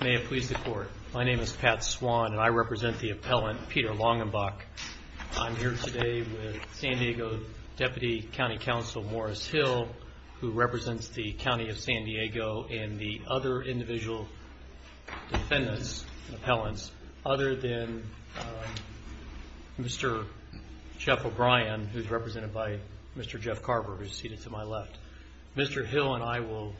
May it please the court. My name is Pat Swann and I represent the appellant Peter Longanbach. I'm here today with San Diego Deputy County Counsel Morris Hill, who represents the County of San Diego and the other individual defendants, appellants, other than Mr. Jeff O'Brien, who is represented by Mr. Jeff Carver, who is seated to my left. Mr. Hill and I will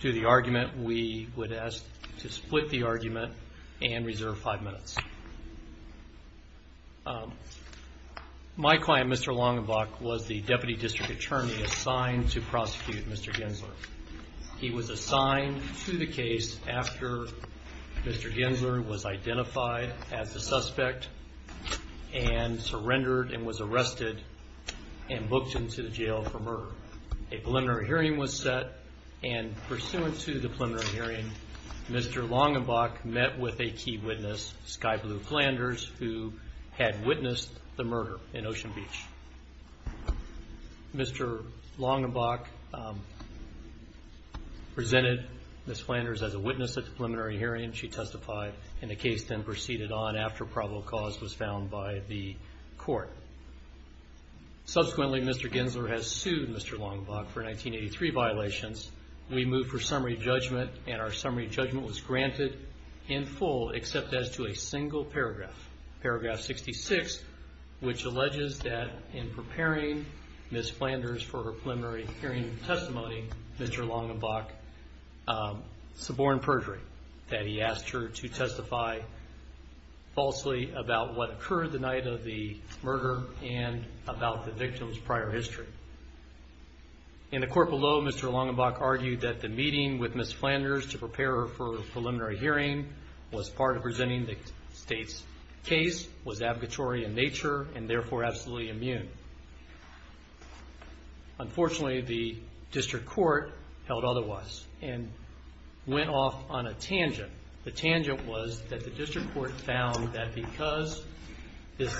do the argument. We would ask to split the argument and reserve five minutes. My client, Mr. Longanbach, was the Deputy District Attorney assigned to prosecute Mr. Genzler. He was assigned to the case after Mr. Genzler was identified as the suspect and surrendered and was arrested and booked into the jail for murder. A preliminary hearing was set and pursuant to the preliminary hearing, Mr. Longanbach met with a key witness, Sky Blue Flanders, who had witnessed the murder in Ocean Beach. Mr. Longanbach presented Ms. Flanders as a witness at the preliminary hearing. She testified, and the case then proceeded on after probable cause was found by the court. Subsequently, Mr. Genzler has sued Mr. Longanbach for 1983 violations. We move for summary judgment, and our summary judgment was granted in full except as to a single paragraph, paragraph 66, which alleges that in preparing Ms. Flanders for her preliminary hearing testimony, Mr. Longanbach suborned perjury, that he asked her to testify falsely about what occurred the night of the murder and about the victim's prior history. In the court below, Mr. Longanbach argued that the meeting with Ms. Flanders to prepare her for a preliminary hearing was part of presenting the state's case, was abogatory in nature, and therefore absolutely immune. Unfortunately, the district court held otherwise and went off on a tangent. The tangent was that the district court found that because his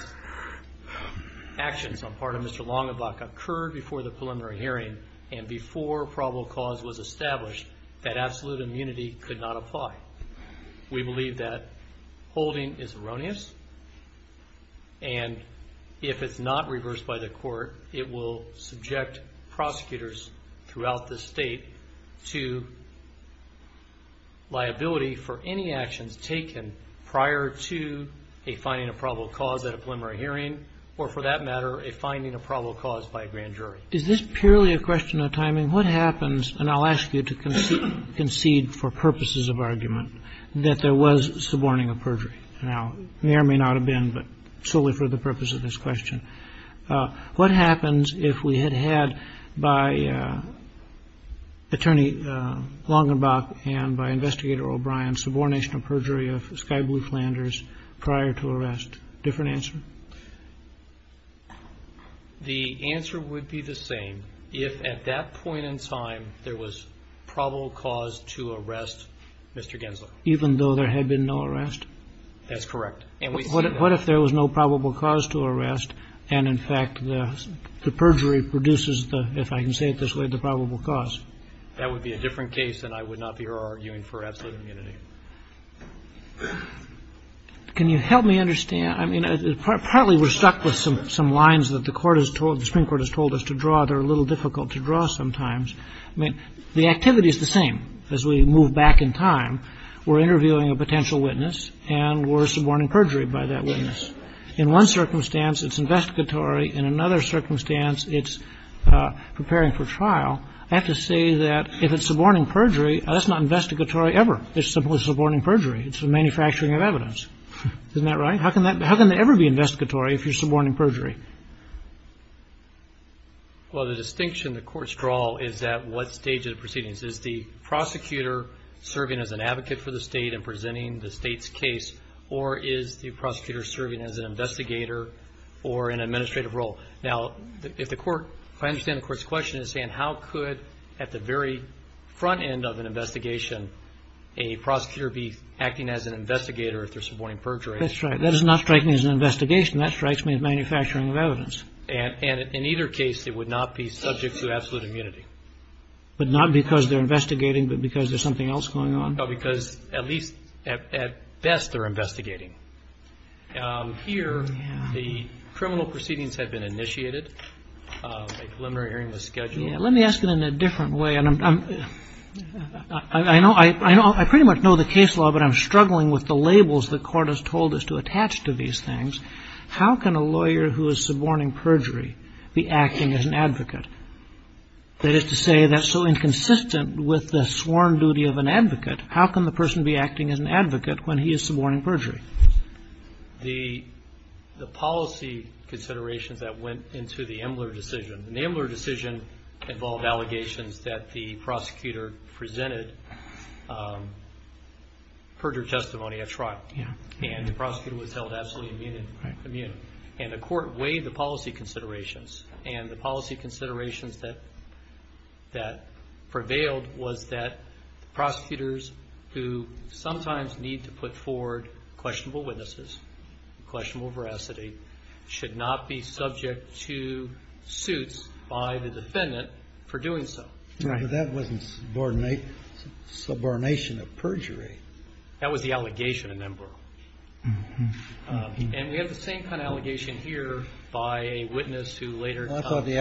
actions on part of Mr. Longanbach occurred before the preliminary hearing and before probable cause was established, that absolute immunity could not apply. We believe that holding is erroneous, and if it's not reversed by the court, it will subject prosecutors throughout the state to liability for any actions taken prior to a finding of probable cause at a preliminary hearing or, for that matter, a finding of probable cause by a grand jury. Is this purely a question of timing? What happens, and I'll ask you to concede for purposes of argument, that there was suborning of perjury? Now, there may not have been, but solely for the purpose of this question. What happens if we had had by Attorney Longanbach and by Investigator O'Brien subornation of perjury of Sky Blue Flanders prior to arrest? Different answer? The answer would be the same. If at that point in time there was probable cause to arrest Mr. Gensler. Even though there had been no arrest? That's correct. And what if there was no probable cause to arrest, and in fact the perjury produces the, if I can say it this way, the probable cause? That would be a different case, and I would not be here arguing for absolute immunity. Can you help me understand? I mean, partly we're stuck with some lines that the Court has told, the Supreme Court has told us to draw. They're a little difficult to draw sometimes. I mean, the activity is the same. As we move back in time, we're interviewing a potential witness, and we're suborning perjury by that witness. In one circumstance, it's investigatory. In another circumstance, it's preparing for trial. I have to say that if it's suborning perjury, that's not investigatory ever. It's simply suborning perjury. It's the manufacturing of evidence. Isn't that right? How can that ever be investigatory if you're suborning perjury? Well, the distinction the courts draw is at what stage of the proceedings. Is the prosecutor serving as an advocate for the State and presenting the State's case, or is the prosecutor serving as an investigator or an administrative role? Now, if the Court, if I understand the Court's question, is saying how could, at the very front end of an investigation, a prosecutor be acting as an investigator if they're suborning perjury? That's right. That is not striking as an investigation. That strikes me as manufacturing of evidence. And in either case, it would not be subject to absolute immunity. But not because they're investigating, but because there's something else going on? No, because at least, at best, they're investigating. Here, the criminal proceedings have been initiated. The preliminary hearing was scheduled. Let me ask it in a different way. I know, I pretty much know the case law, but I'm struggling with the labels the Court has told us to attach to these things. How can a lawyer who is suborning perjury be acting as an advocate? That is to say, that's so inconsistent with the sworn duty of an advocate. How can the person be acting as an advocate when he is suborning perjury? The policy considerations that went into the Emler decision, and the Emler decision involved allegations that the prosecutor presented perjury testimony. That's right. And the prosecutor was held absolutely immune. And the Court weighed the policy considerations, and the policy considerations that prevailed was that prosecutors who sometimes need to put forward questionable witnesses, questionable veracity, should not be subject to suits by the defendant for doing so. Right. But that wasn't subordination of perjury. That was the allegation in Emler. And we have the same kind of allegation here by a witness who later... started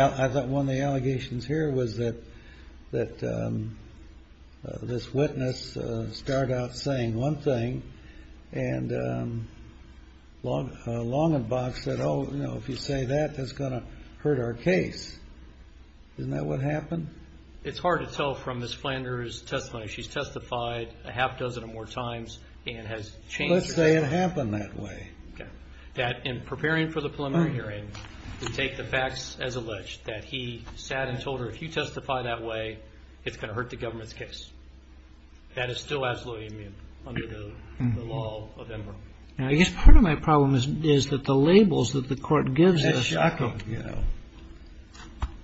out saying one thing, and Longenbach said, oh, you know, if you say that, that's going to hurt our case. Isn't that what happened? It's hard to tell from Ms. Flanders' testimony. She's testified a half dozen or more times and has changed... Let's say it happened that way. That in preparing for the preliminary hearing, to take the facts as alleged, that he sat and told her, if you testify that way, it's going to hurt the government's case. That is still absolutely immune under the law of Emler. I guess part of my problem is that the labels that the Court gives us... It's shocking, you know.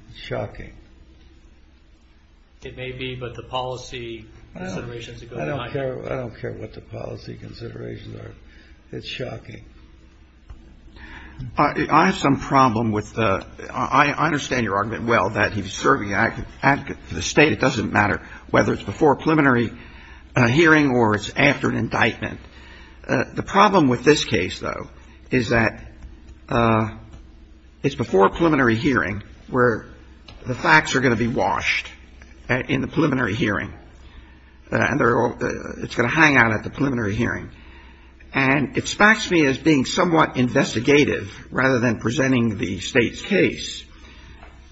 It's shocking. It may be, but the policy considerations... I don't care what the policy considerations are. It's shocking. I have some problem with the... I understand your argument well that he's serving an advocate for the State. It doesn't matter whether it's before a preliminary hearing or it's after an indictment. The problem with this case, though, is that it's before a preliminary hearing where the facts are going to be washed in the preliminary hearing. And they're all... It's going to hang out at the preliminary hearing. And it sparks me as being somewhat investigative rather than presenting the State's case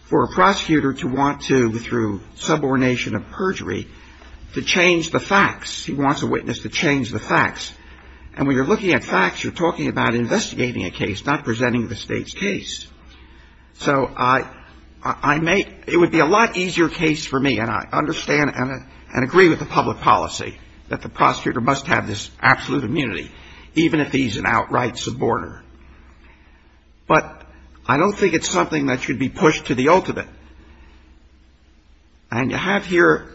for a prosecutor to want to, through subordination of perjury, to change the facts. He wants a witness to change the facts. And when you're looking at facts, you're talking about investigating a case, not presenting the State's case. So I make... It would be a lot easier case for me, and I understand and agree with the public policy that the prosecutor must have this absolute immunity, even if he's an outright suborder. But I don't think it's something that should be pushed to the ultimate. And you have here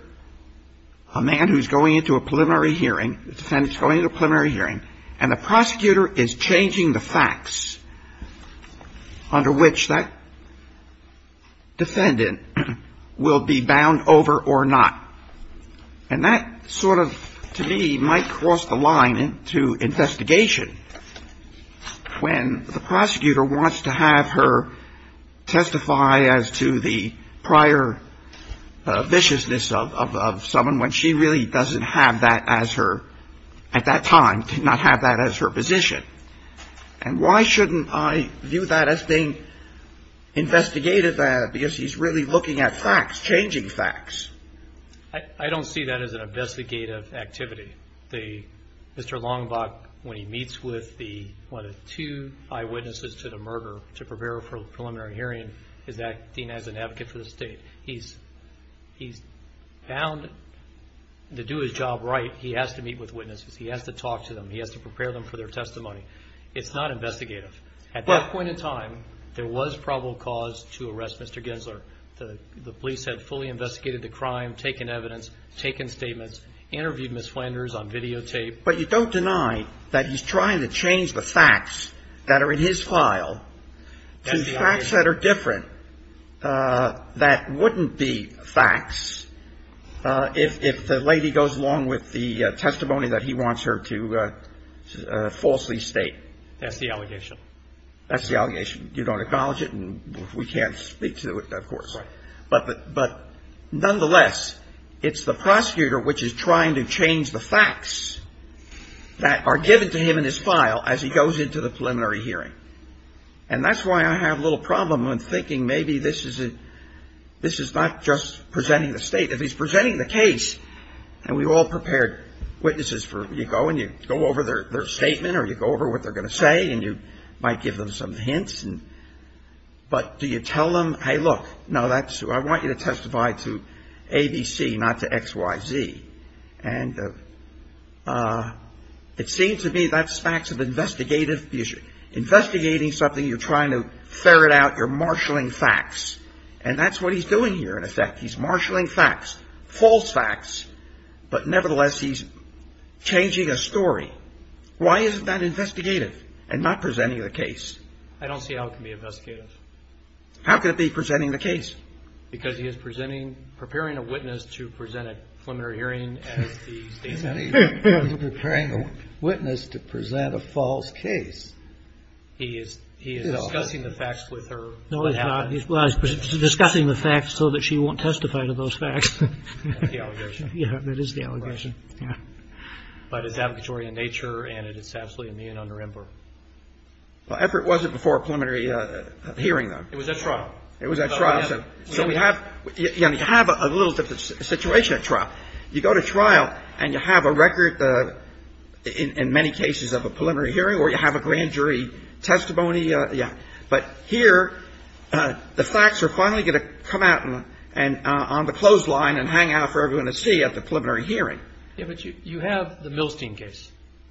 a man who's going into a preliminary hearing. The defendant's going into a preliminary hearing. And the prosecutor is changing the facts under which that defendant will be bound over or not. And that sort of, to me, might cross the line into investigation when the prosecutor wants to have her testify as to the prior viciousness of someone when she really doesn't have that as her, at that time, did not have that as her position. And why shouldn't I view that as being investigative? Because he's really looking at facts, changing facts. I don't see that as an investigative activity. Mr. Longbach, when he meets with one of the two eyewitnesses to the murder to prepare her for a preliminary hearing, is acting as an advocate for the State. He's bound to do his job right. He has to meet with witnesses. He has to talk to them. He has to prepare them for their testimony. It's not investigative. At that point in time, there was probable cause to arrest Mr. Gensler. The police had fully investigated the crime, taken evidence, taken statements, interviewed Ms. Flanders on videotape. But you don't deny that he's trying to change the facts that are in his file to facts that are different that wouldn't be facts if the lady goes along with the testimony that he wants her to falsely state. That's the allegation. That's the allegation. You don't acknowledge it, and we can't speak to it, of course. Right. But nonetheless, it's the prosecutor which is trying to change the facts that are given to him in his file as he goes into the preliminary hearing. And that's why I have a little problem in thinking maybe this is not just presenting the State. If he's presenting the case, and we've all prepared witnesses for you go, and you go over their statement, or you go over what they're going to say, and you might give them some hints, but do you tell them, hey, look, I want you to testify to ABC, not to XYZ. And it seems to me that's facts of investigative issue. Investigating something, you're trying to ferret out, you're marshalling facts. And that's what he's doing here, in effect. He's marshalling facts, false facts, but nevertheless, he's changing a story. Why isn't that investigative and not presenting the case? I don't see how it can be investigative. How could it be presenting the case? Because he is presenting, preparing a witness to present a preliminary hearing as the State's case. He's preparing a witness to present a false case. He is discussing the facts with her. No, he's not. He's discussing the facts so that she won't testify to those facts. That's the allegation. Yeah, that is the allegation. Yeah. But it's advocatory in nature, and it is absolutely immune under IMPER. Well, if it wasn't before a preliminary hearing, though. It was at trial. It was at trial. So we have a little different situation at trial. You go to trial, and you have a record in many cases of a preliminary hearing, or you have a grand jury testimony. Yeah. But here, the facts are finally going to come out on the clothesline and hang out for everyone to see at the preliminary hearing. Yeah, but you have the Milstein case.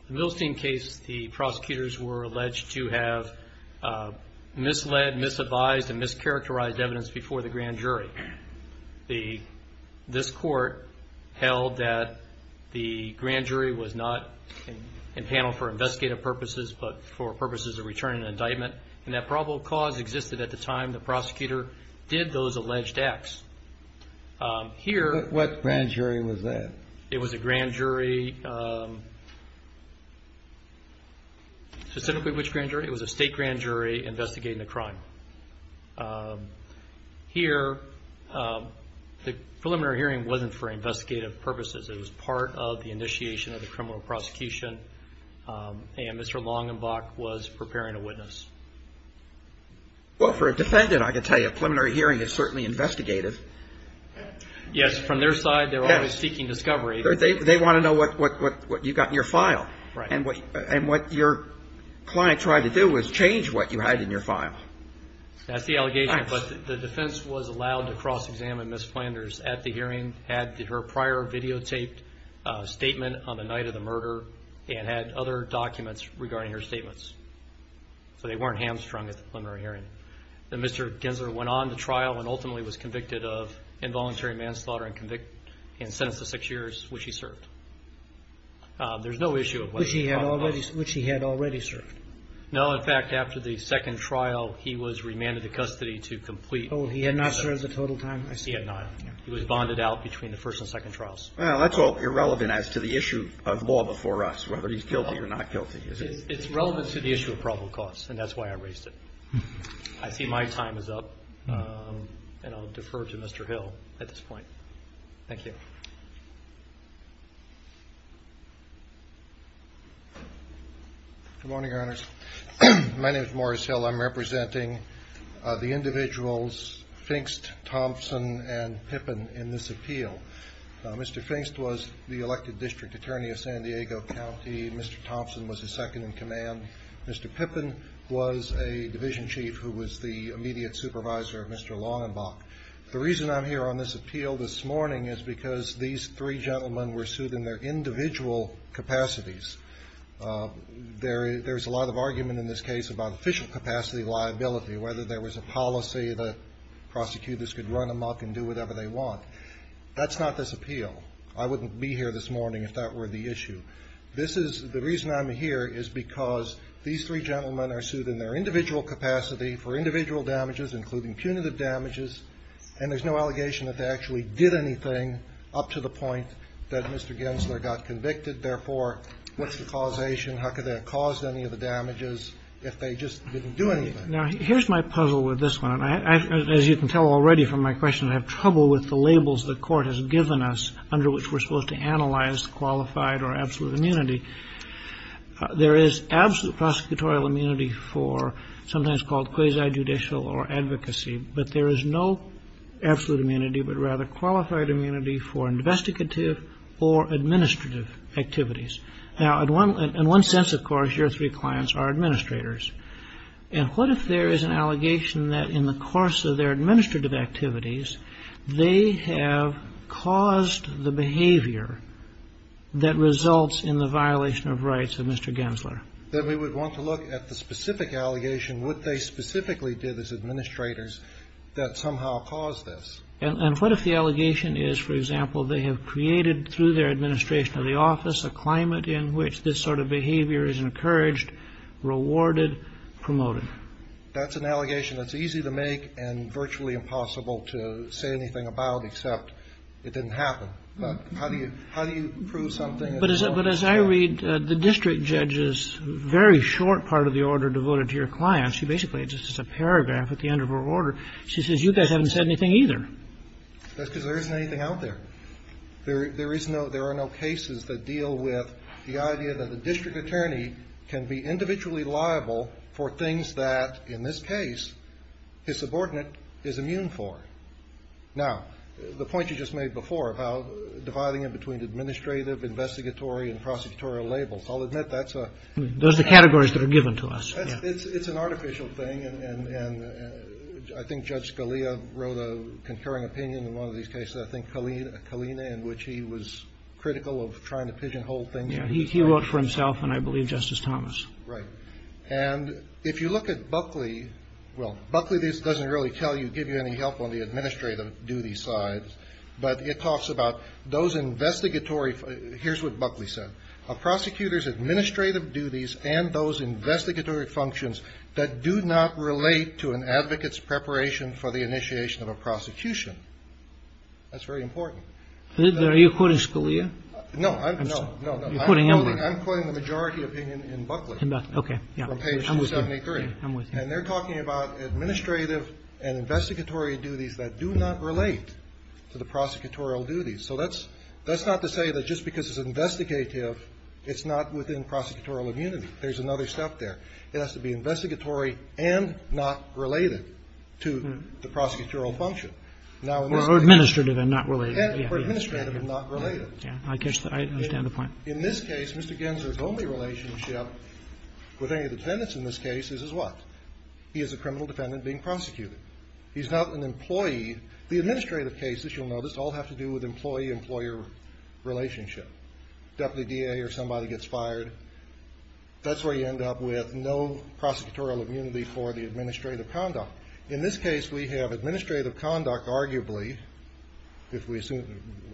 The Milstein case, the prosecutors were alleged to have misled, misadvised, and mischaracterized evidence before the grand jury. This court held that the grand jury was not in panel for investigative purposes but for purposes of returning an indictment, and that probable cause existed at the time the prosecutor did those alleged acts. What grand jury was that? It was a grand jury. Specifically which grand jury? It was a state grand jury investigating the crime. Here, the preliminary hearing wasn't for investigative purposes. It was part of the initiation of the criminal prosecution, and Mr. Longenbach was preparing a witness. Well, for a defendant, I can tell you, a preliminary hearing is certainly investigative. Yes, from their side, they're always seeking discovery. They want to know what you've got in your file, and what your client tried to do was change what you had in your file. That's the allegation, but the defense was allowed to cross-examine Ms. Flanders at the hearing, had her prior videotaped statement on the night of the murder, and had other documents regarding her statements. So they weren't hamstrung at the preliminary hearing. Mr. Gensler went on to trial and ultimately was convicted of involuntary manslaughter and convicted and sentenced to six years, which he served. There's no issue of whether or not he served. Which he had already served. No. In fact, after the second trial, he was remanded to custody to complete. Oh, he had not served the total time. He had not. He was bonded out between the first and second trials. Well, that's all irrelevant as to the issue of law before us, whether he's guilty or not guilty. It's relevant to the issue of probable cause, and that's why I raised it. I see my time is up, and I'll defer to Mr. Hill at this point. Thank you. Good morning, Your Honors. My name is Morris Hill. I'm representing the individuals Finkst, Thompson, and Pippin in this appeal. Mr. Finkst was the elected district attorney of San Diego County. Mr. Thompson was his second-in-command. Mr. Pippin was a division chief who was the immediate supervisor of Mr. Longenbach. The reason I'm here on this appeal this morning is because these three gentlemen were sued in their individual capacities. There's a lot of argument in this case about official capacity liability, whether there was a policy that prosecutors could run amok and do whatever they want. That's not this appeal. I wouldn't be here this morning if that were the issue. This is the reason I'm here is because these three gentlemen are sued in their individual capacity for individual damages, including punitive damages, and there's no allegation that they actually did anything up to the point that Mr. Gensler got convicted. Therefore, what's the causation? How could they have caused any of the damages if they just didn't do anything? Now, here's my puzzle with this one. As you can tell already from my question, I have trouble with the labels the Court has given us under which we're supposed to analyze qualified or absolute immunity. There is absolute prosecutorial immunity for sometimes called quasi-judicial or advocacy, but there is no absolute immunity but rather qualified immunity for investigative or administrative activities. Now, in one sense, of course, your three clients are administrators. And what if there is an allegation that in the course of their administrative activities, they have caused the behavior that results in the violation of rights of Mr. Gensler? Then we would want to look at the specific allegation, what they specifically did as administrators that somehow caused this. And what if the allegation is, for example, they have created through their administration of the office a climate in which this sort of behavior is encouraged, rewarded, promoted? That's an allegation that's easy to make and virtually impossible to say anything about except it didn't happen. But how do you prove something? But as I read the district judge's very short part of the order devoted to your client, she basically just has a paragraph at the end of her order. She says, you guys haven't said anything either. That's because there isn't anything out there. There are no cases that deal with the idea that a district attorney can be individually liable for things that, in this case, his subordinate is immune for. Now, the point you just made before about dividing it between administrative, investigatory, and prosecutorial labels, I'll admit that's a — Those are categories that are given to us. It's an artificial thing. And I think Judge Scalia wrote a concurring opinion in one of these cases. I think Kalina, in which he was critical of trying to pigeonhole things. Yeah. He wrote for himself, and I believe Justice Thomas. Right. And if you look at Buckley — well, Buckley doesn't really tell you, give you any help on the administrative duty side. But it talks about those investigatory — here's what Buckley said. A prosecutor's administrative duties and those investigatory functions that do not relate to an advocate's preparation for the initiation of a prosecution. That's very important. Are you quoting Scalia? No, no, no, no. You're quoting him. I'm quoting the majority opinion in Buckley. Okay. From page 73. I'm with you. And they're talking about administrative and investigatory duties that do not relate to the prosecutorial duties. So that's not to say that just because it's investigative, it's not within prosecutorial immunity. There's another step there. It has to be investigatory and not related to the prosecutorial function. Or administrative and not related. Or administrative and not related. I catch that. I understand the point. In this case, Mr. Gensler's only relationship with any of the defendants in this case is his what? He is a criminal defendant being prosecuted. He's not an employee. The administrative cases, you'll notice, all have to do with employee-employer relationship. Deputy DA or somebody gets fired. That's where you end up with no prosecutorial immunity for the administrative conduct. In this case, we have administrative conduct, arguably.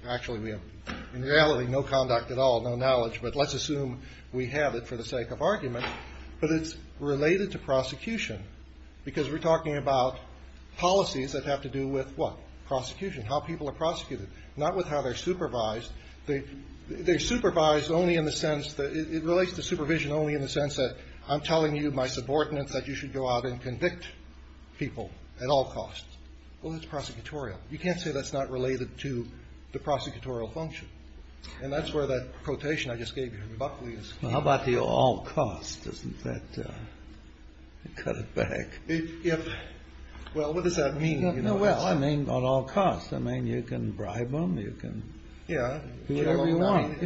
Actually, in reality, no conduct at all. No knowledge. But let's assume we have it for the sake of argument. But it's related to prosecution. Because we're talking about policies that have to do with what? Prosecution. How people are prosecuted. Not with how they're supervised. They're supervised only in the sense that it relates to supervision only in the sense that I'm telling you, my subordinates, that you should go out and convict people at all costs. Well, that's prosecutorial. You can't say that's not related to the prosecutorial function. And that's where that quotation I just gave you from Buckley is. Well, how about the all costs? Doesn't that cut it back? Well, what does that mean? Well, I mean, on all costs. I mean, you can bribe them. You can do whatever you want.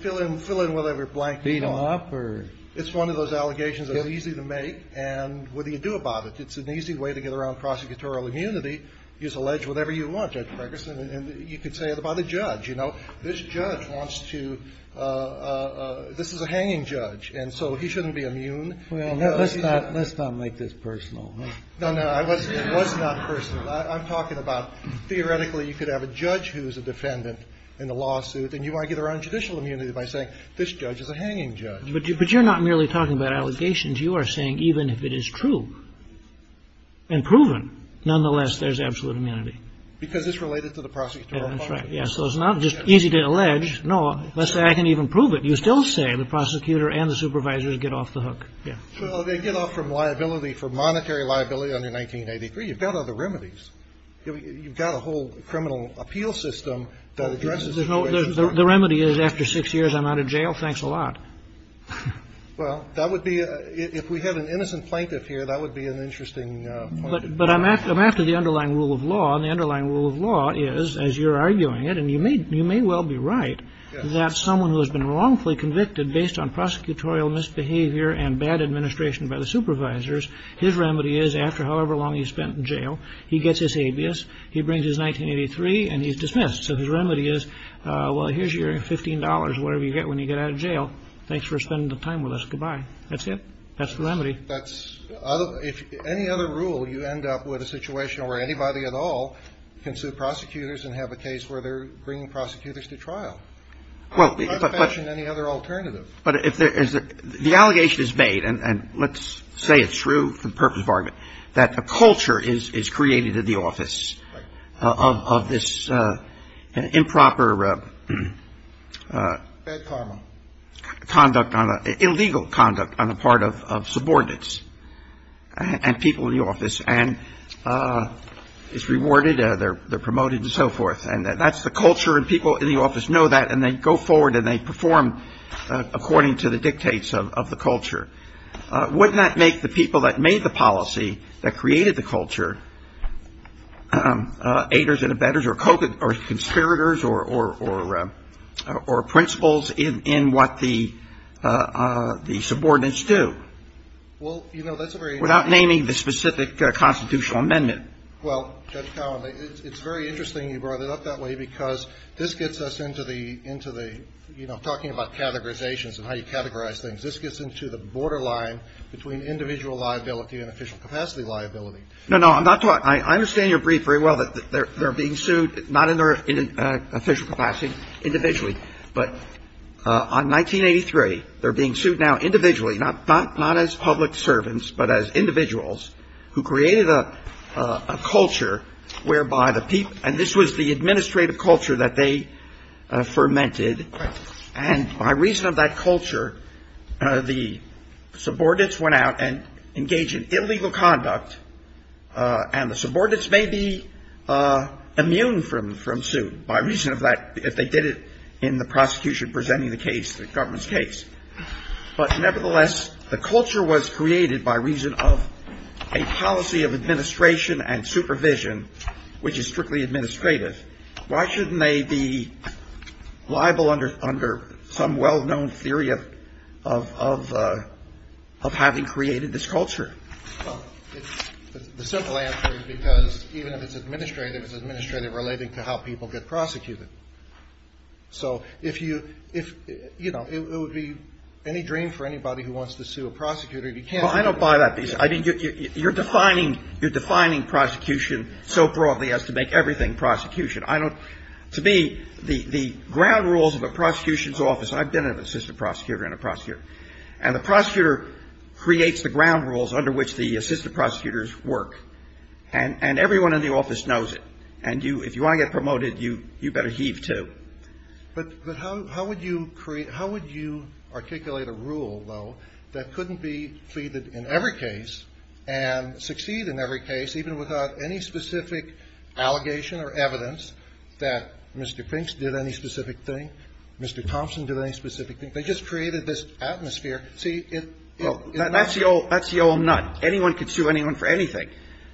Fill in whatever blank you want. Beat them up? It's one of those allegations that's easy to make. And what do you do about it? It's an easy way to get around prosecutorial immunity. You just allege whatever you want, Judge Ferguson. And you could say it about a judge. You know, this judge wants to – this is a hanging judge. And so he shouldn't be immune. Well, let's not make this personal. No, no. It was not personal. I'm talking about theoretically you could have a judge who's a defendant in a lawsuit. And you want to get around judicial immunity by saying this judge is a hanging judge. But you're not merely talking about allegations. You are saying even if it is true and proven, nonetheless, there's absolute immunity. Because it's related to the prosecutorial function. Yeah, that's right. Yeah, so it's not just easy to allege. No. Let's say I can even prove it. You still say the prosecutor and the supervisors get off the hook. Yeah. So they get off from liability, from monetary liability under 1983. You've got other remedies. The remedy is after six years I'm out of jail. Thanks a lot. Well, that would be – if we had an innocent plaintiff here, that would be an interesting point. But I'm after the underlying rule of law. And the underlying rule of law is, as you're arguing it, and you may well be right, that someone who has been wrongfully convicted based on prosecutorial misbehavior and bad administration by the supervisors, his remedy is after however long he's spent in jail, he gets his habeas, he brings his 1983, and he's dismissed. So his remedy is, well, here's your $15, whatever you get when you get out of jail. Thanks for spending the time with us. Goodbye. That's it. That's the remedy. That's – if any other rule, you end up with a situation where anybody at all can sue prosecutors and have a case where they're bringing prosecutors to trial. Well, but – I'm not mentioning any other alternative. But if there is – the allegation is made, and let's say it's true for the purpose of argument, that a culture is created in the office of this improper conduct on a – illegal conduct on the part of subordinates and people in the office, and it's rewarded, they're promoted and so forth. And that's the culture, and people in the office know that, and they go forward and they perform according to the dictates of the culture. Wouldn't that make the people that made the policy, that created the culture, aiders and abettors or conspirators or principals in what the subordinates do? Well, you know, that's a very – Without naming the specific constitutional amendment. Well, Judge Cowen, it's very interesting you brought it up that way because this gets us into the – you know, talking about categorizations and how you categorize things. This gets into the borderline between individual liability and official capacity liability. No, no. I'm not – I understand your brief very well, that they're being sued not in their official capacity individually, but on 1983, they're being sued now individually, not as public servants, but as individuals who created a culture whereby the people – and this was the administrative culture that they fermented. Right. And by reason of that culture, the subordinates went out and engaged in illegal conduct, and the subordinates may be immune from suit by reason of that – if they did it in the prosecution presenting the case, the government's case. But nevertheless, the culture was created by reason of a policy of administration and supervision, which is strictly administrative. Why shouldn't they be liable under some well-known theory of having created this culture? Well, it's – the simple answer is because even if it's administrative, it's administrative relating to how people get prosecuted. So if you – you know, it would be any dream for anybody who wants to sue a prosecutor if you can't – Well, I don't buy that. You're defining prosecution so broadly as to make everything prosecution. I don't – to me, the ground rules of a prosecution's office – I've been an assistant prosecutor and a prosecutor, and the prosecutor creates the ground rules under which the assistant prosecutors work, and everyone in the office knows it. And if you want to get promoted, you better heave to. That's the old nut. Anyone can sue anyone for anything.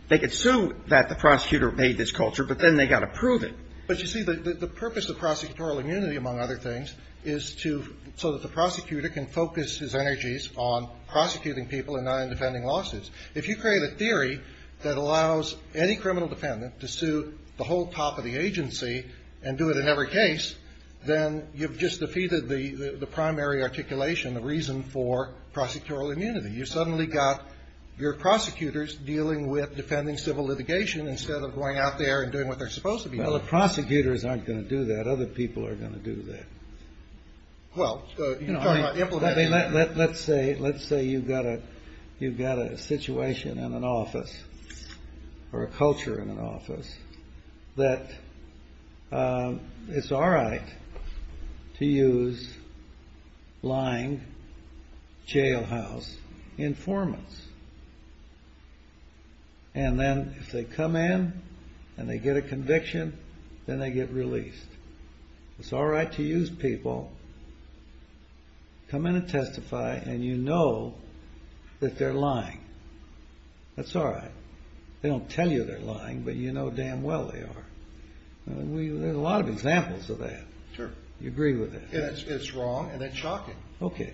They could sue that the prosecutor made this culture, but then they got to prove it. But you see, the purpose of prosecutorial immunity, among other things, is to – so that the prosecutor can focus his energies on what is the ultimate goal, which is to put the country on the table. on prosecuting people and not in defending lawsuits. If you create a theory that allows any criminal defendant to sue the whole top of the agency and do it in every case, then you've just defeated the primary articulation, the reason for prosecutorial immunity. You've suddenly got your prosecutors dealing with defending civil litigation instead of going out there and doing what they're supposed to be doing. Well, the prosecutors aren't going to do that. Other people are going to do that. Let's say you've got a situation in an office or a culture in an office that it's all right to use lying, jailhouse informants. And then if they come in and they get a conviction, then they get released. It's all right to use people. Come in and testify, and you know that they're lying. That's all right. They don't tell you they're lying, but you know damn well they are. There's a lot of examples of that. You agree with that? It's wrong, and it's shocking. Okay.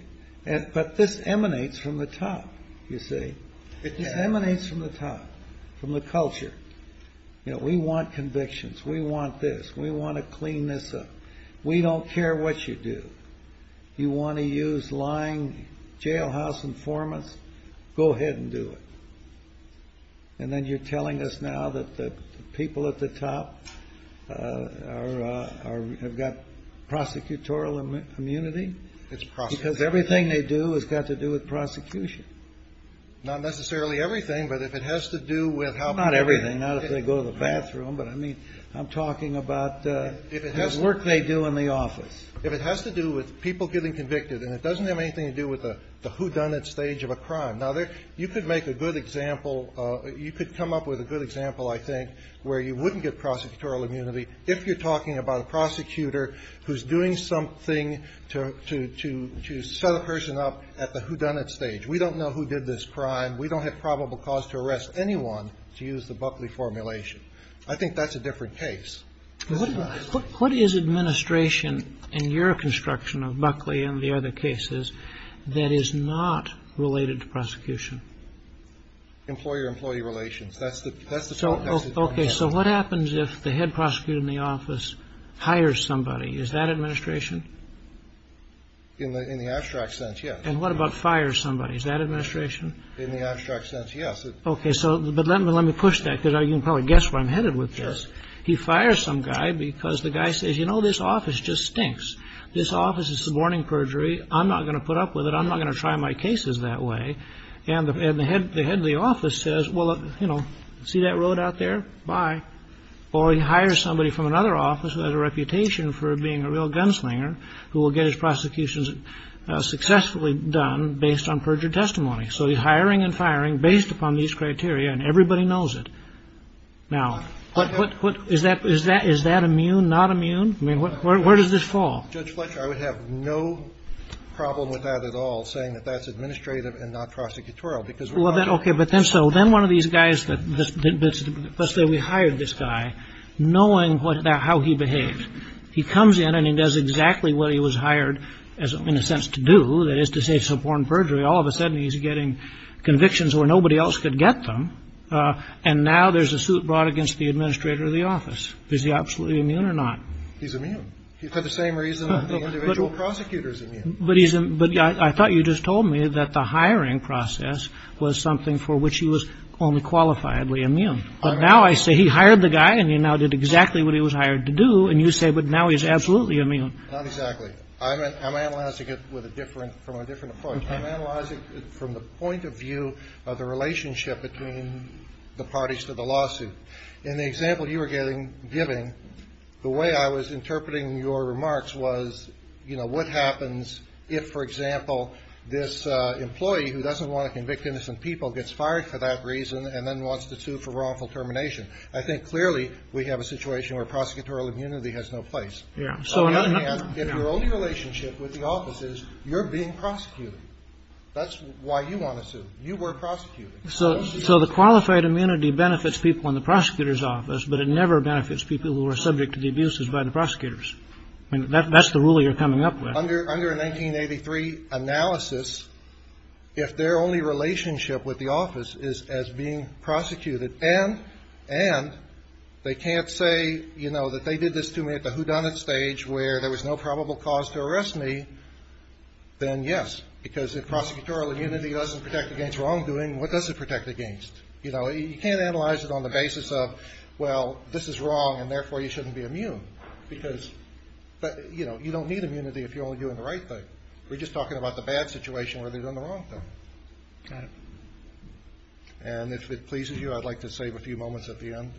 But this emanates from the top, you see. It emanates from the top, from the culture. We want convictions. We want this. We want to clean this up. We don't care what you do. You want to use lying, jailhouse informants, go ahead and do it. And then you're telling us now that the people at the top have got prosecutorial immunity? It's prosecutorial immunity. Because everything they do has got to do with prosecution. Not necessarily everything, but if it has to do with how people are treated. They go to the bathroom, but I mean, I'm talking about the work they do in the office. If it has to do with people getting convicted, and it doesn't have anything to do with the whodunit stage of a crime. Now, you could make a good example. You could come up with a good example, I think, where you wouldn't get prosecutorial immunity if you're talking about a prosecutor who's doing something to set a person up at the whodunit stage. We don't know who did this crime. We don't have probable cause to arrest anyone to use the Buckley formulation. I think that's a different case. What is administration in your construction of Buckley and the other cases that is not related to prosecution? Employer-employee relations. That's the context. Okay. So what happens if the head prosecutor in the office hires somebody? Is that administration? In the abstract sense, yes. And what about fires somebody? Is that administration? In the abstract sense, yes. Okay. So let me push that, because you can probably guess where I'm headed with this. He fires some guy because the guy says, you know, this office just stinks. This office is suborning perjury. I'm not going to put up with it. I'm not going to try my cases that way. And the head of the office says, well, you know, see that road out there? Bye. Or he hires somebody from another office who has a reputation for being a real gunslinger who will get his prosecutions successfully done based on perjured testimony. So he's hiring and firing based upon these criteria, and everybody knows it. Now, is that immune, not immune? I mean, where does this fall? Judge Fletcher, I would have no problem with that at all, saying that that's administrative and not prosecutorial, because we're not immune. Okay, but then so then one of these guys, let's say we hired this guy, knowing how he behaves. He comes in and he does exactly what he was hired in a sense to do, that is to say suborn perjury. All of a sudden he's getting convictions where nobody else could get them. And now there's a suit brought against the administrator of the office. Is he absolutely immune or not? He's immune. For the same reason that the individual prosecutor is immune. But I thought you just told me that the hiring process was something for which he was only qualifiably immune. But now I say he hired the guy and he now did exactly what he was hired to do, and you say, but now he's absolutely immune. Not exactly. I'm analyzing it from a different approach. I'm analyzing it from the point of view of the relationship between the parties to the lawsuit. In the example you were giving, the way I was interpreting your remarks was, you know, what happens if, for example, this employee who doesn't want to convict innocent people gets fired for that reason and then wants to sue for wrongful termination. I think clearly we have a situation where prosecutorial immunity has no place. On the other hand, if your only relationship with the office is you're being prosecuted, that's why you want to sue. You were prosecuting. So the qualified immunity benefits people in the prosecutor's office, but it never benefits people who are subject to the abuses by the prosecutors. That's the rule you're coming up with. Under a 1983 analysis, if their only relationship with the office is as being prosecuted and they can't say, you know, that they did this to me at the whodunit stage where there was no probable cause to arrest me, then yes. Because if prosecutorial immunity doesn't protect against wrongdoing, what does it protect against? You know, you can't analyze it on the basis of, well, this is wrong and therefore you shouldn't be immune. Because, you know, you don't need immunity if you're only doing the right thing. We're just talking about the bad situation where they've done the wrong thing. Got it. And if it pleases you, I'd like to save a few moments at the end.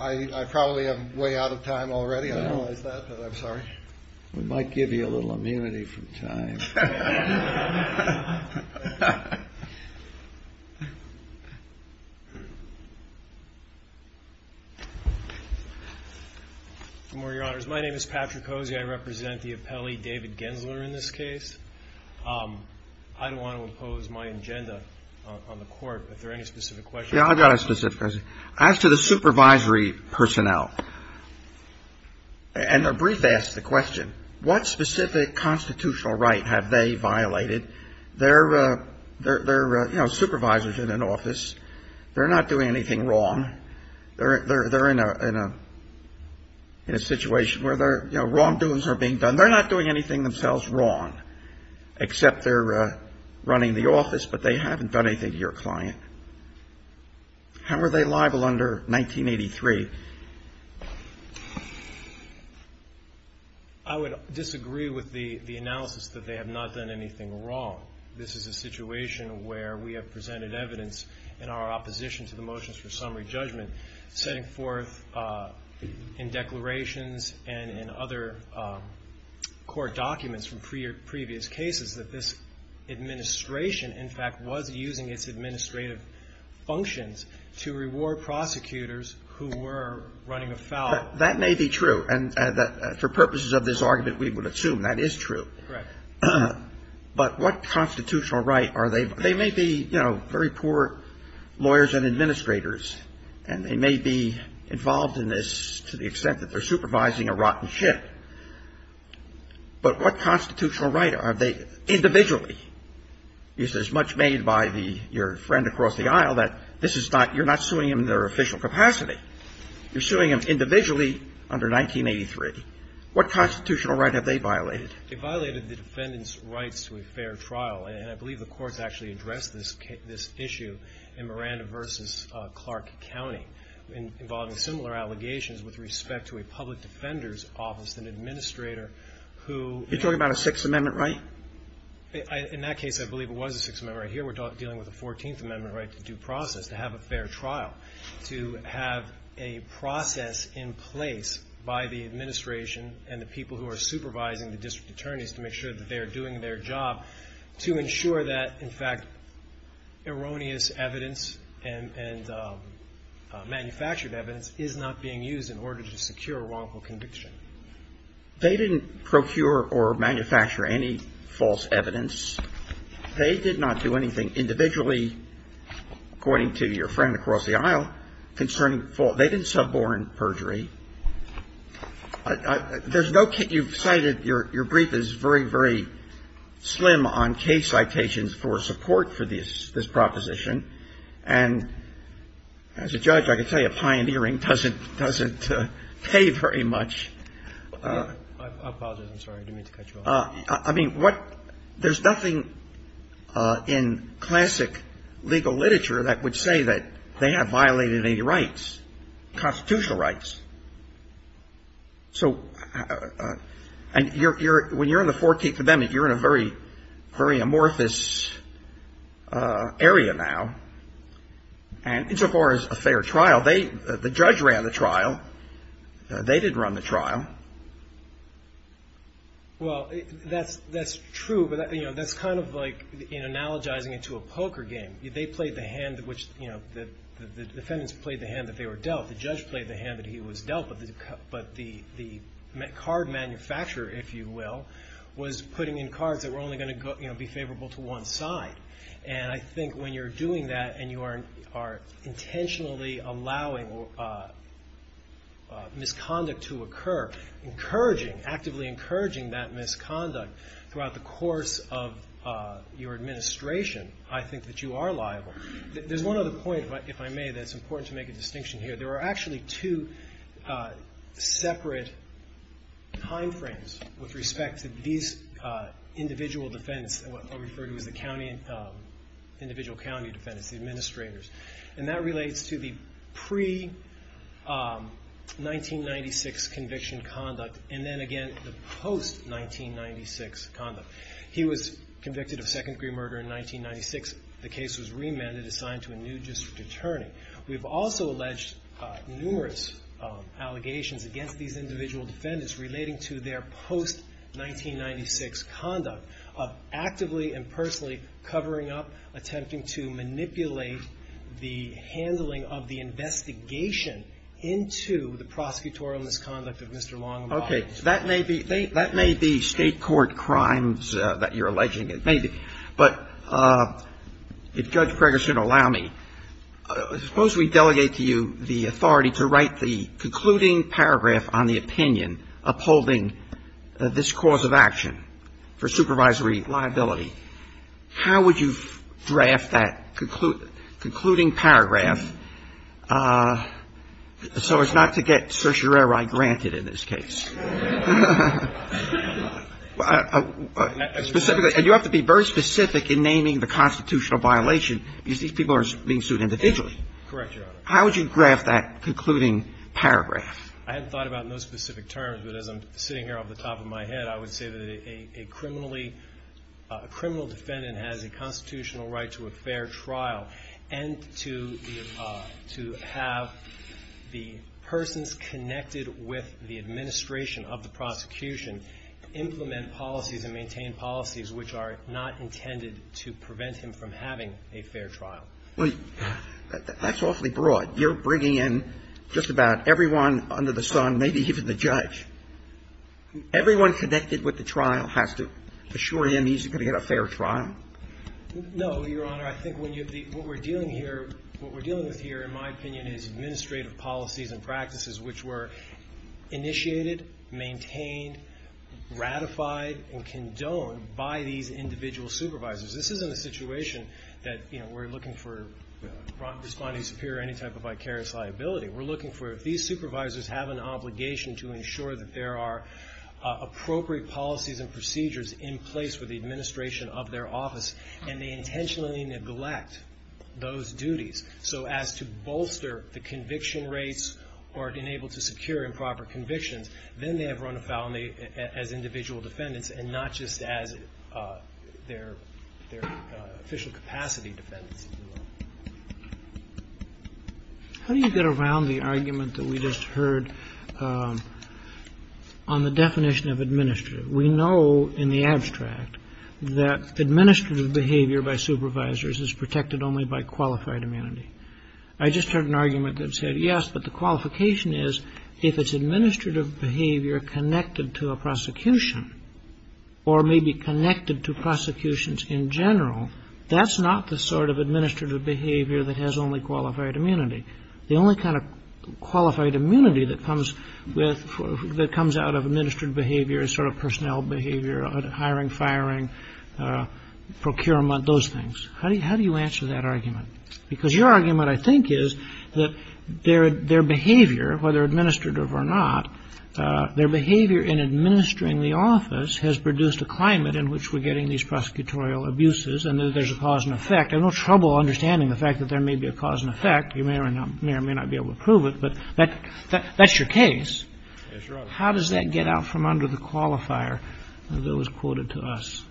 I probably am way out of time already. I don't realize that, but I'm sorry. We might give you a little immunity from time. My name is Patrick Hosey. I represent the appellee, David Gensler, in this case. I don't want to impose my agenda on the Court. If there are any specific questions. Yeah, I've got a specific question. As to the supervisory personnel, and a brief ask the question, what specific constitutional right has the State Department They're, you know, supervisors in an office. They're not doing anything wrong. They're in a situation where wrongdoings are being done. They're not doing anything themselves wrong, except they're running the office, but they haven't done anything to your client. How are they liable under 1983? I would disagree with the analysis that they have not done anything wrong. This is a situation where we have presented evidence in our opposition to the motions for summary judgment, setting forth in declarations and in other court documents from previous cases that this administration, in fact, was using its administrative functions to reward prosecutors who were running afoul. That may be true. And for purposes of this argument, we would assume that is true. But what constitutional right are they? They may be, you know, very poor lawyers and administrators, and they may be involved in this to the extent that they're supervising a rotten ship. But what constitutional right are they individually? Is it as much made by your friend across the aisle that you're not suing them in their official capacity? You're suing them individually under 1983. What constitutional right have they violated? They violated the defendant's rights to a fair trial, and I believe the courts actually addressed this issue in Miranda v. Clark County, involving similar allegations with respect to a public defender's office, an administrator who You're talking about a Sixth Amendment right? In that case, I believe it was a Sixth Amendment right. Here we're dealing with a Fourteenth Amendment right to due process, to have a fair trial, to have a process in place by the administration and the people who are supervising the district attorneys to make sure that they are doing their job to ensure that, in fact, erroneous evidence and manufactured evidence is not being used in order to secure a wrongful conviction. They didn't procure or manufacture any false evidence. They did not do anything individually, according to your friend across the aisle, concerning false They didn't suborn perjury. There's no case You've cited your brief is very, very slim on case citations for support for this proposition. And as a judge, I can tell you pioneering doesn't pay very much. I apologize. I'm sorry. I didn't mean to cut you off. I mean, what There's nothing in classic legal literature that would say that they have violated any rights, constitutional rights. So and you're when you're in the Fourteenth Amendment, you're in a very, very amorphous area now. And so far as a fair trial, they the judge ran the trial. They didn't run the trial. Well, that's that's true. But that's kind of like analogizing it to a poker game. They played the hand in which the defendants played the hand that they were dealt. The judge played the hand that he was dealt. But the card manufacturer, if you will, was putting in cards that were only going to be favorable to one side. And I think when you're doing that and you are intentionally allowing misconduct to occur, encouraging actively encouraging that misconduct throughout the course of your administration, I think that you are liable. There's one other point, if I may, that's important to make a distinction here. There are actually two separate time frames with respect to these individual defendants. And what I refer to as the county individual county defendants, the administrators. And that relates to the pre-1996 conviction conduct. And then again, the post-1996 conduct. He was convicted of second degree murder in 1996. The case was remanded assigned to a new district attorney. We've also alleged numerous allegations against these individual defendants relating to their post-1996 conduct of actively and personally covering up, attempting to manipulate the handling of the investigation into the prosecutorial misconduct of Mr. Long. Okay. So that may be state court crimes that you're alleging. But if Judge Preggerson will allow me, suppose we delegate to you the authority to write the concluding paragraph on the opinion upholding this cause of action for supervisory liability. How would you draft that concluding paragraph so as not to get certiorari granted in this case? And you have to be very specific in naming the constitutional violation because these people are being sued individually. Correct, Your Honor. How would you draft that concluding paragraph? I haven't thought about it in those specific terms, but as I'm sitting here off the top of my head, I would say that a criminally, a criminal defendant has a constitutional right to a fair trial and to have the persons connected with the administration of the prosecution implement policies and maintain policies which are not intended to prevent him from having a fair trial. That's awfully broad. You're bringing in just about everyone under the sun, maybe even the judge. Everyone connected with the trial has to assure him he's going to get a fair trial? No, Your Honor. I think what we're dealing with here, in my opinion, is administrative policies and practices which were initiated, maintained, ratified, and condoned by these individual supervisors. This isn't a situation that we're looking for responding superior to any type of vicarious liability. We're looking for if these supervisors have an obligation to ensure that there are appropriate policies and procedures in place for the administration of their office and they intentionally neglect those duties so as to bolster the conviction rates or enable to secure improper convictions, then they have run afoul as individual defendants and not just as their official capacity defendants. How do you get around the argument that we just heard on the definition of administrative? We know in the abstract that administrative behavior by supervisors is protected only by qualified immunity. I just heard an argument that said, yes, but the qualification is if it's administrative behavior connected to a prosecution or maybe connected to prosecutions in general, that's not the sort of administrative behavior that has only qualified immunity. The only kind of qualified immunity that comes out of administrative behavior is sort of personnel behavior, hiring, firing, procurement, those things. How do you answer that argument? Because your argument, I think, is that their behavior, whether administrative or not, their behavior in administering the office has produced a climate in which we're getting these prosecutorial abuses and that there's a cause and effect. I have no trouble understanding the fact that there may be a cause and effect. You may or may not be able to prove it. But that's your case. How does that get out from under the qualifier that was quoted to us?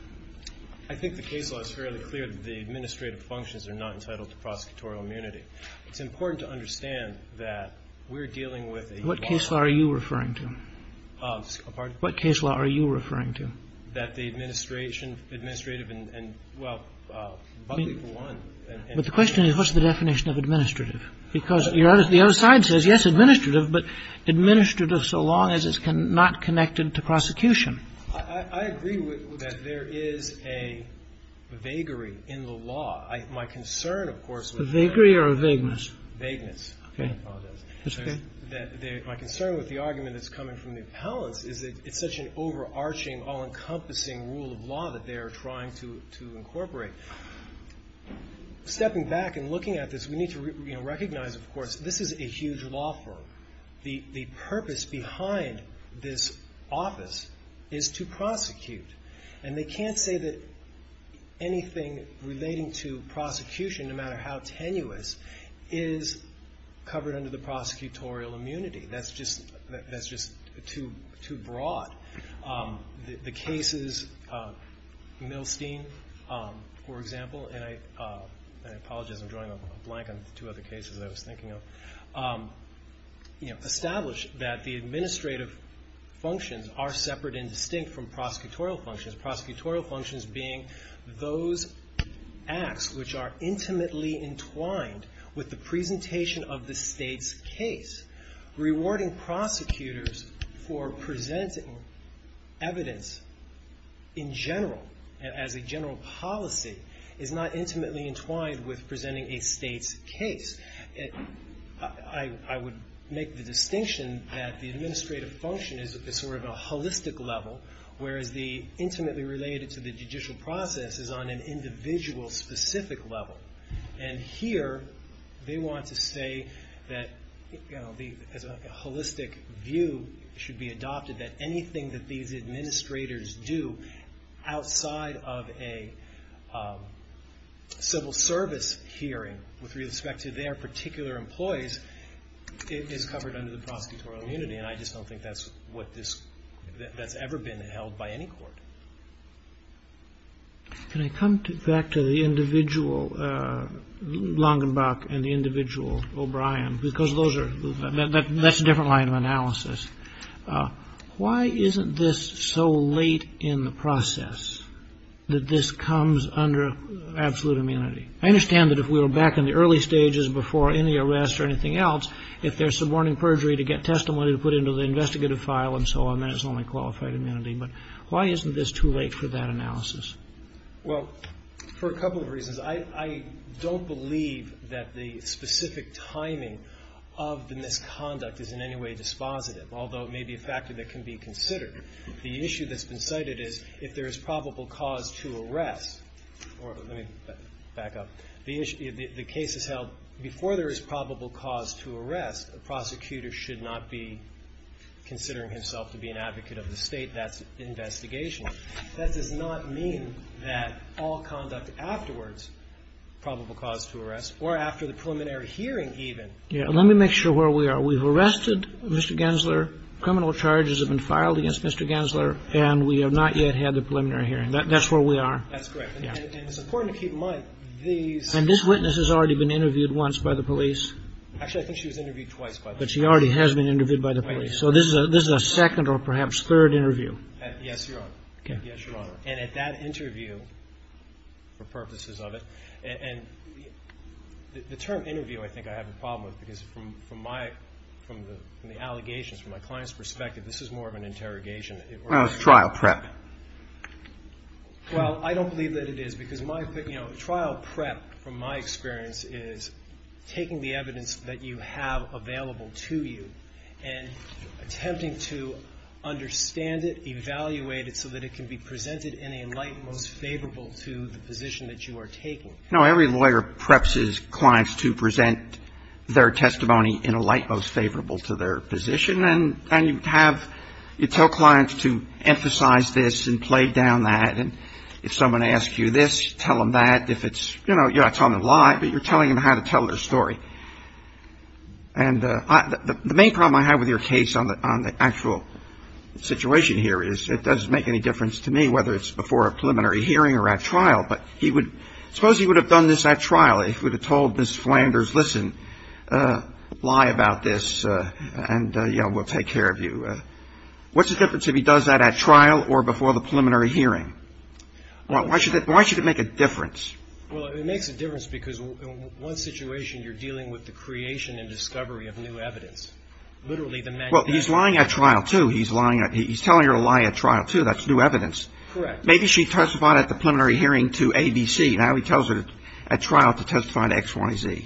I think the case law is fairly clear that the administrative functions are not entitled to prosecutorial immunity. It's important to understand that we're dealing with a law. What case law are you referring to? Pardon? What case law are you referring to? That the administration, administrative and, well, public for one. But the question is, what's the definition of administrative? Because the other side says, yes, administrative, but administrative so long as it's not connected to prosecution. I agree that there is a vagary in the law. My concern, of course, with that. A vagary or a vagueness? Vagueness. I apologize. That's okay. My concern with the argument that's coming from the appellants is that it's such an overarching, all-encompassing rule of law that they are trying to incorporate. Stepping back and looking at this, we need to recognize, of course, this is a huge law firm. The purpose behind this office is to prosecute. And they can't say that anything relating to prosecution, no matter how tenuous, is covered under the prosecutorial immunity. That's just too broad. The cases, Milstein, for example, and I apologize. I'm drawing a blank on two other cases I was thinking of. Establish that the administrative functions are separate and distinct from prosecutorial functions. Prosecutorial functions being those acts which are intimately entwined with the presentation of the state's case, rewarding prosecutors for presenting evidence in general, as a general policy, is not intimately entwined with presenting a state's case. I would make the distinction that the administrative function is at sort of a holistic level, whereas the intimately related to the judicial process is on an individual specific level. And here, they want to say that a holistic view should be adopted that anything that these administrators do outside of a civil service hearing with respect to their particular employees is covered under the prosecutorial immunity. And I just don't think that's what this, that's ever been held by any court. Can I come back to the individual Langenbach and the individual O'Brien? Because those are, that's a different line of analysis. Why isn't this so late in the process that this comes under absolute immunity? I understand that if we were back in the early stages before any arrest or anything else, if there's suborning perjury to get testimony to put into the investigative file and so on, then it's only qualified immunity. But why isn't this too late for that analysis? Well, for a couple of reasons. I don't believe that the specific timing of the misconduct is in any way dispositive, although it may be a factor that can be considered. The issue that's been cited is if there is probable cause to arrest, or let me back up, the case is held before there is probable cause to arrest, a prosecutor should not be considering himself to be an advocate of the State. That's investigational. That does not mean that all conduct afterwards, probable cause to arrest, or after the preliminary hearing even. Yeah. Let me make sure where we are. We've arrested Mr. Gensler. Criminal charges have been filed against Mr. Gensler. And we have not yet had the preliminary hearing. That's where we are. That's correct. And it's important to keep in mind, these. And this witness has already been interviewed once by the police. Actually, I think she was interviewed twice by the police. But she already has been interviewed by the police. So this is a second or perhaps third interview. Yes, Your Honor. Okay. Yes, Your Honor. And at that interview, for purposes of it, and the term interview I think I have a problem with, because from my, from the allegations, from my client's perspective, this is more of an interrogation. Well, it's trial prep. Well, I don't believe that it is. Because my opinion, you know, trial prep from my experience is taking the evidence that you have available to you and attempting to understand it, evaluate it so that it can be presented in a light most favorable to the position that you are taking. No, every lawyer preps his clients to present their testimony in a light most favorable to their position. And you have, you tell clients to emphasize this and play down that. And if someone asks you this, tell them that. If it's, you know, you're not telling them lie, but you're telling them how to tell their story. And the main problem I have with your case on the actual situation here is it doesn't make any difference to me whether it's before a preliminary hearing or at trial. But he would, suppose he would have done this at trial. He would have told Ms. Flanders, listen, lie about this and, you know, we'll take care of you. What's the difference if he does that at trial or before the preliminary hearing? Why should it make a difference? Well, it makes a difference because in one situation you're dealing with the creation and discovery of new evidence. Literally, the man who died. Well, he's lying at trial, too. He's lying. He's telling her to lie at trial, too. That's new evidence. Correct. Maybe she testified at the preliminary hearing to ABC. Now he tells her at trial to testify to X, Y, Z.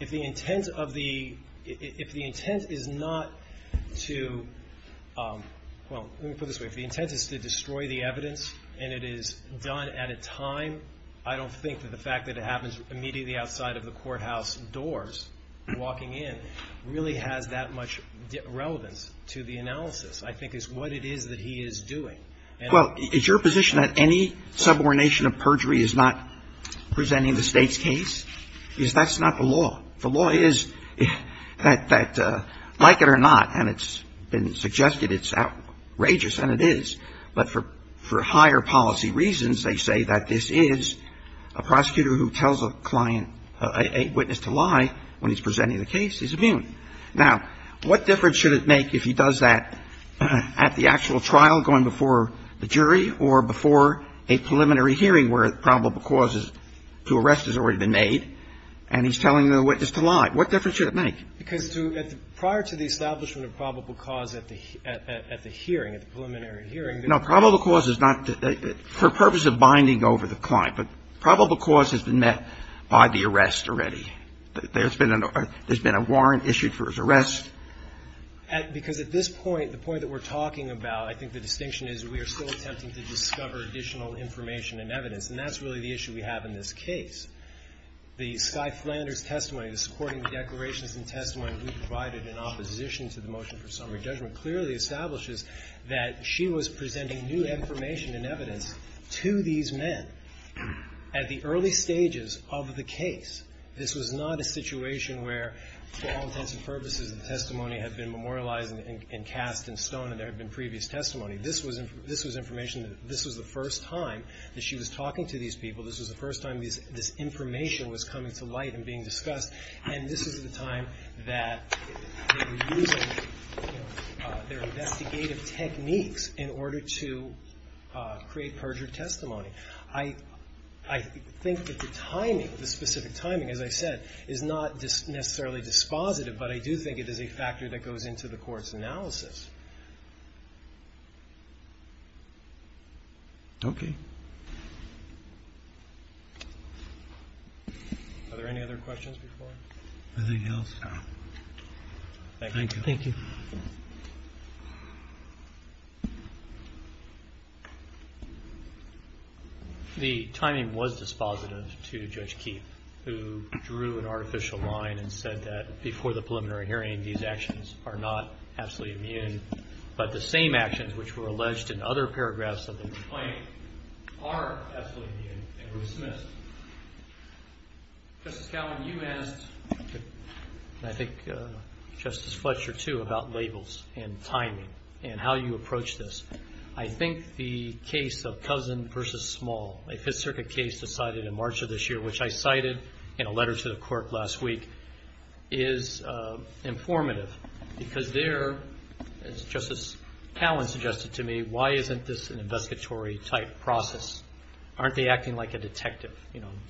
If the intent of the, if the intent is not to, well, let me put it this way. If the intent is to destroy the evidence and it is done at a time, I don't think that the fact that it happens immediately outside of the courthouse doors, walking in, really has that much relevance to the analysis. I think it's what it is that he is doing. Well, is your position that any subordination of perjury is not presenting the State's case? Because that's not the law. The law is that like it or not, and it's been suggested it's outrageous, and it is, but for higher policy reasons they say that this is a prosecutor who tells a client, a witness to lie when he's presenting the case is immune. Now, what difference should it make if he does that at the actual trial going before the jury or before a hearing? If he's presenting the case to the State and he's telling the witness to lie, what difference should it make? Because to, prior to the establishment of probable cause at the hearing, at the preliminary hearing. No. Probable cause is not, for purpose of binding over the client. But probable cause has been met by the arrest already. There's been a warrant issued for his arrest. Because at this point, the point that we're talking about, I think the distinction is we are still attempting to discover additional information and evidence, and that's really the issue we have in this case. The Skye Flanders testimony, the supporting declarations and testimony we provided in opposition to the motion for summary judgment clearly establishes that she was presenting new information and evidence to these men at the early stages of the case. This was not a situation where for all intents and purposes the testimony had been memorialized and cast in stone and there had been previous testimony. This was information that this was the first time that she was talking to these people. This was the first time this information was coming to light and being discussed. And this is the time that they were using their investigative techniques in order to create perjured testimony. I think that the timing, the specific timing, as I said, is not necessarily dispositive, but I do think it is a factor that goes into the court's analysis. Okay. Are there any other questions before us? Nothing else. Thank you. Thank you. The timing was dispositive to Judge Keefe, who drew an artificial line and said that before the preliminary hearing these actions are not absolutely immune, but the same actions which were alleged in other paragraphs of the complaint are absolutely immune and were dismissed. Justice Cowan, you asked, and I think Justice Fletcher, too, about labels and timing and how you approach this. I think the case of Cousin v. Small, a Fifth Circuit case decided in March of this year, which I cited in a letter to the court last week, is informative because there, as Justice Cowan suggested to me, why isn't this an investigatory type process? Aren't they acting like a detective,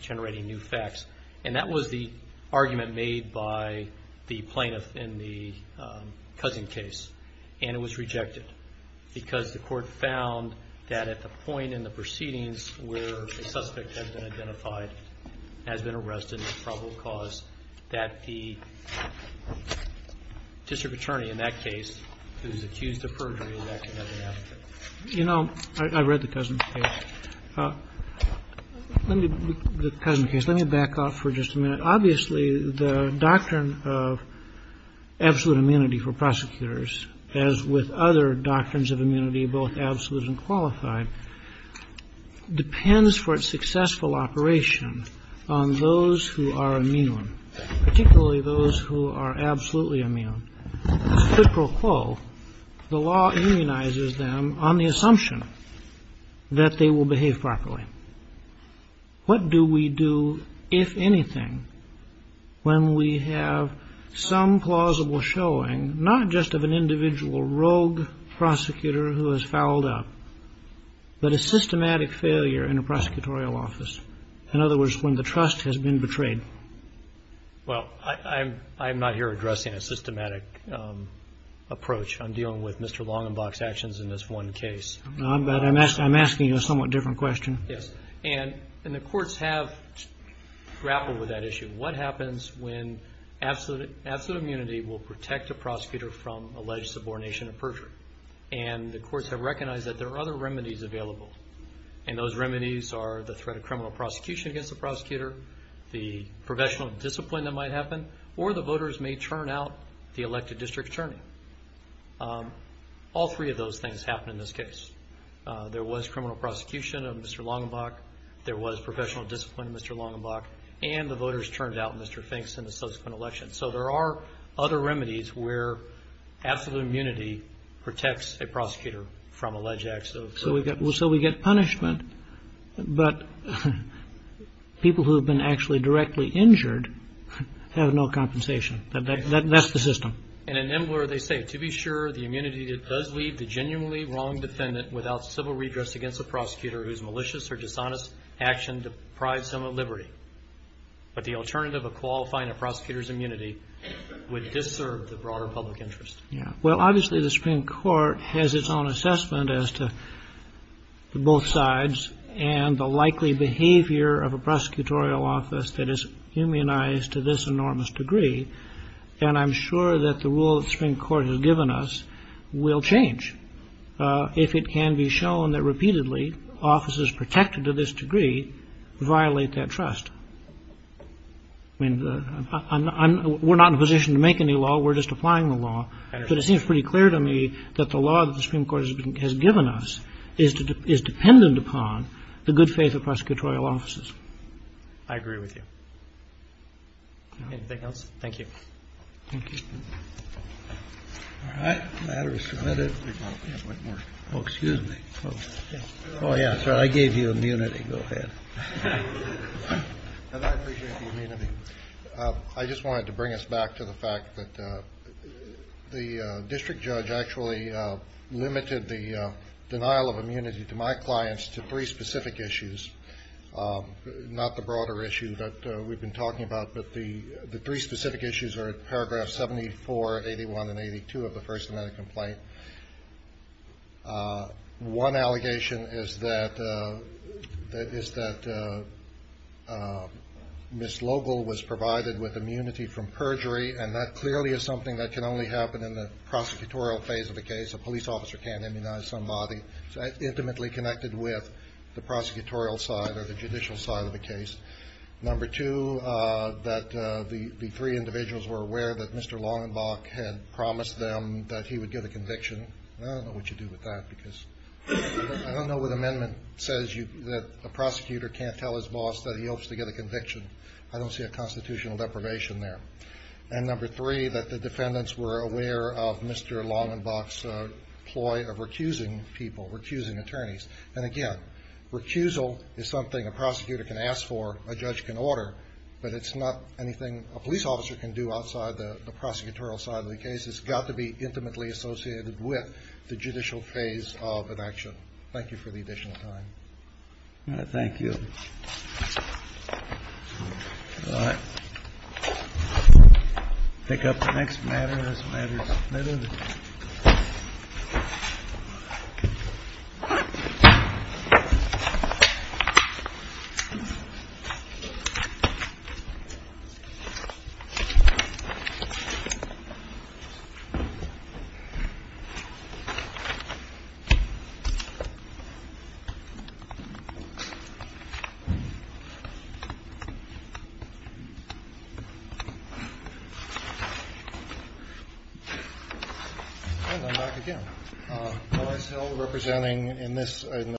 generating new facts? And that was the argument made by the plaintiff in the Cousin case, and it was rejected because the court found that at the point in the proceedings where the suspect has been identified, has been arrested for probable cause, that the district attorney in that case is accused of perjury and that can never happen. You know, I read the Cousin case. The Cousin case, let me back off for just a minute. Obviously, the doctrine of absolute immunity for prosecutors, as with other doctrines of immunity, both absolute and qualified, depends for its successful operation on those who are immune, particularly those who are absolutely immune. As a critical quo, the law immunizes them on the assumption that they will behave properly. What do we do, if anything, when we have some plausible showing, not just of an individual rogue prosecutor who has fouled up, but a systematic failure in a prosecutorial office? In other words, when the trust has been betrayed. Well, I'm not here addressing a systematic approach. I'm dealing with Mr. Longenbach's actions in this one case. I'm asking you a somewhat different question. Yes, and the courts have grappled with that issue. What happens when absolute immunity will protect a prosecutor from alleged subordination and perjury? And the courts have recognized that there are other remedies available, and those remedies are the threat of criminal prosecution against the prosecutor, the professional discipline that might happen, or the voters may turn out the elected district attorney. All three of those things happen in this case. There was criminal prosecution of Mr. Longenbach. There was professional discipline of Mr. Longenbach. And the voters turned out Mr. Finks in the subsequent election. So there are other remedies where absolute immunity protects a prosecutor from alleged acts of perjury. So we get punishment, but people who have been actually directly injured have no compensation. That's the system. And in Embler, they say, to be sure, the immunity that does leave the genuinely wrong defendant without civil redress against a prosecutor whose malicious or dishonest action deprives him of liberty, but the alternative of qualifying a prosecutor's immunity would disserve the broader public interest. Yeah, well, obviously, the Supreme Court has its own assessment as to both sides and the likely behavior of a prosecutorial office that is humanized to this enormous degree. And I'm sure that the rule that the Supreme Court has given us will change if it can be shown that repeatedly offices protected to this degree violate that trust. I mean, we're not in a position to make any law. We're just applying the law. But it seems pretty clear to me that the law that the Supreme Court has given us is dependent upon the good faith of prosecutorial offices. I agree with you. Anything else? Thank you. Thank you. All right. The matter is submitted. Oh, excuse me. Oh, yeah. I gave you immunity. Go ahead. I appreciate the immunity. I just wanted to bring us back to the fact that the district judge actually limited the denial of immunity to my clients to three specific issues, not the broader issue that we've been talking about, but the three specific issues are at paragraph 74, 81, and 82 of the first amendment complaint. One allegation is that Ms. Logel was provided with immunity from perjury, and that clearly is something that can only happen in the prosecutorial phase of the case. A police officer can't immunize somebody. It's intimately connected with the prosecutorial side or the judicial side of the case. Number two, that the three individuals were aware that Mr. Longenbach had promised them that he would get a conviction. I don't know what you do with that because I don't know what amendment says that a prosecutor can't tell his boss that he hopes to get a conviction. I don't see a constitutional deprivation there. And number three, that the defendants were aware of Mr. Longenbach's ploy of recusing people, recusing attorneys. And again, recusal is something a prosecutor can ask for, a judge can order, but it's not anything a police officer can do outside the prosecutorial side of the case. It's got to be intimately associated with the judicial phase of an action. Thank you for the additional time. Thank you. Pick up the next matter. Thank you.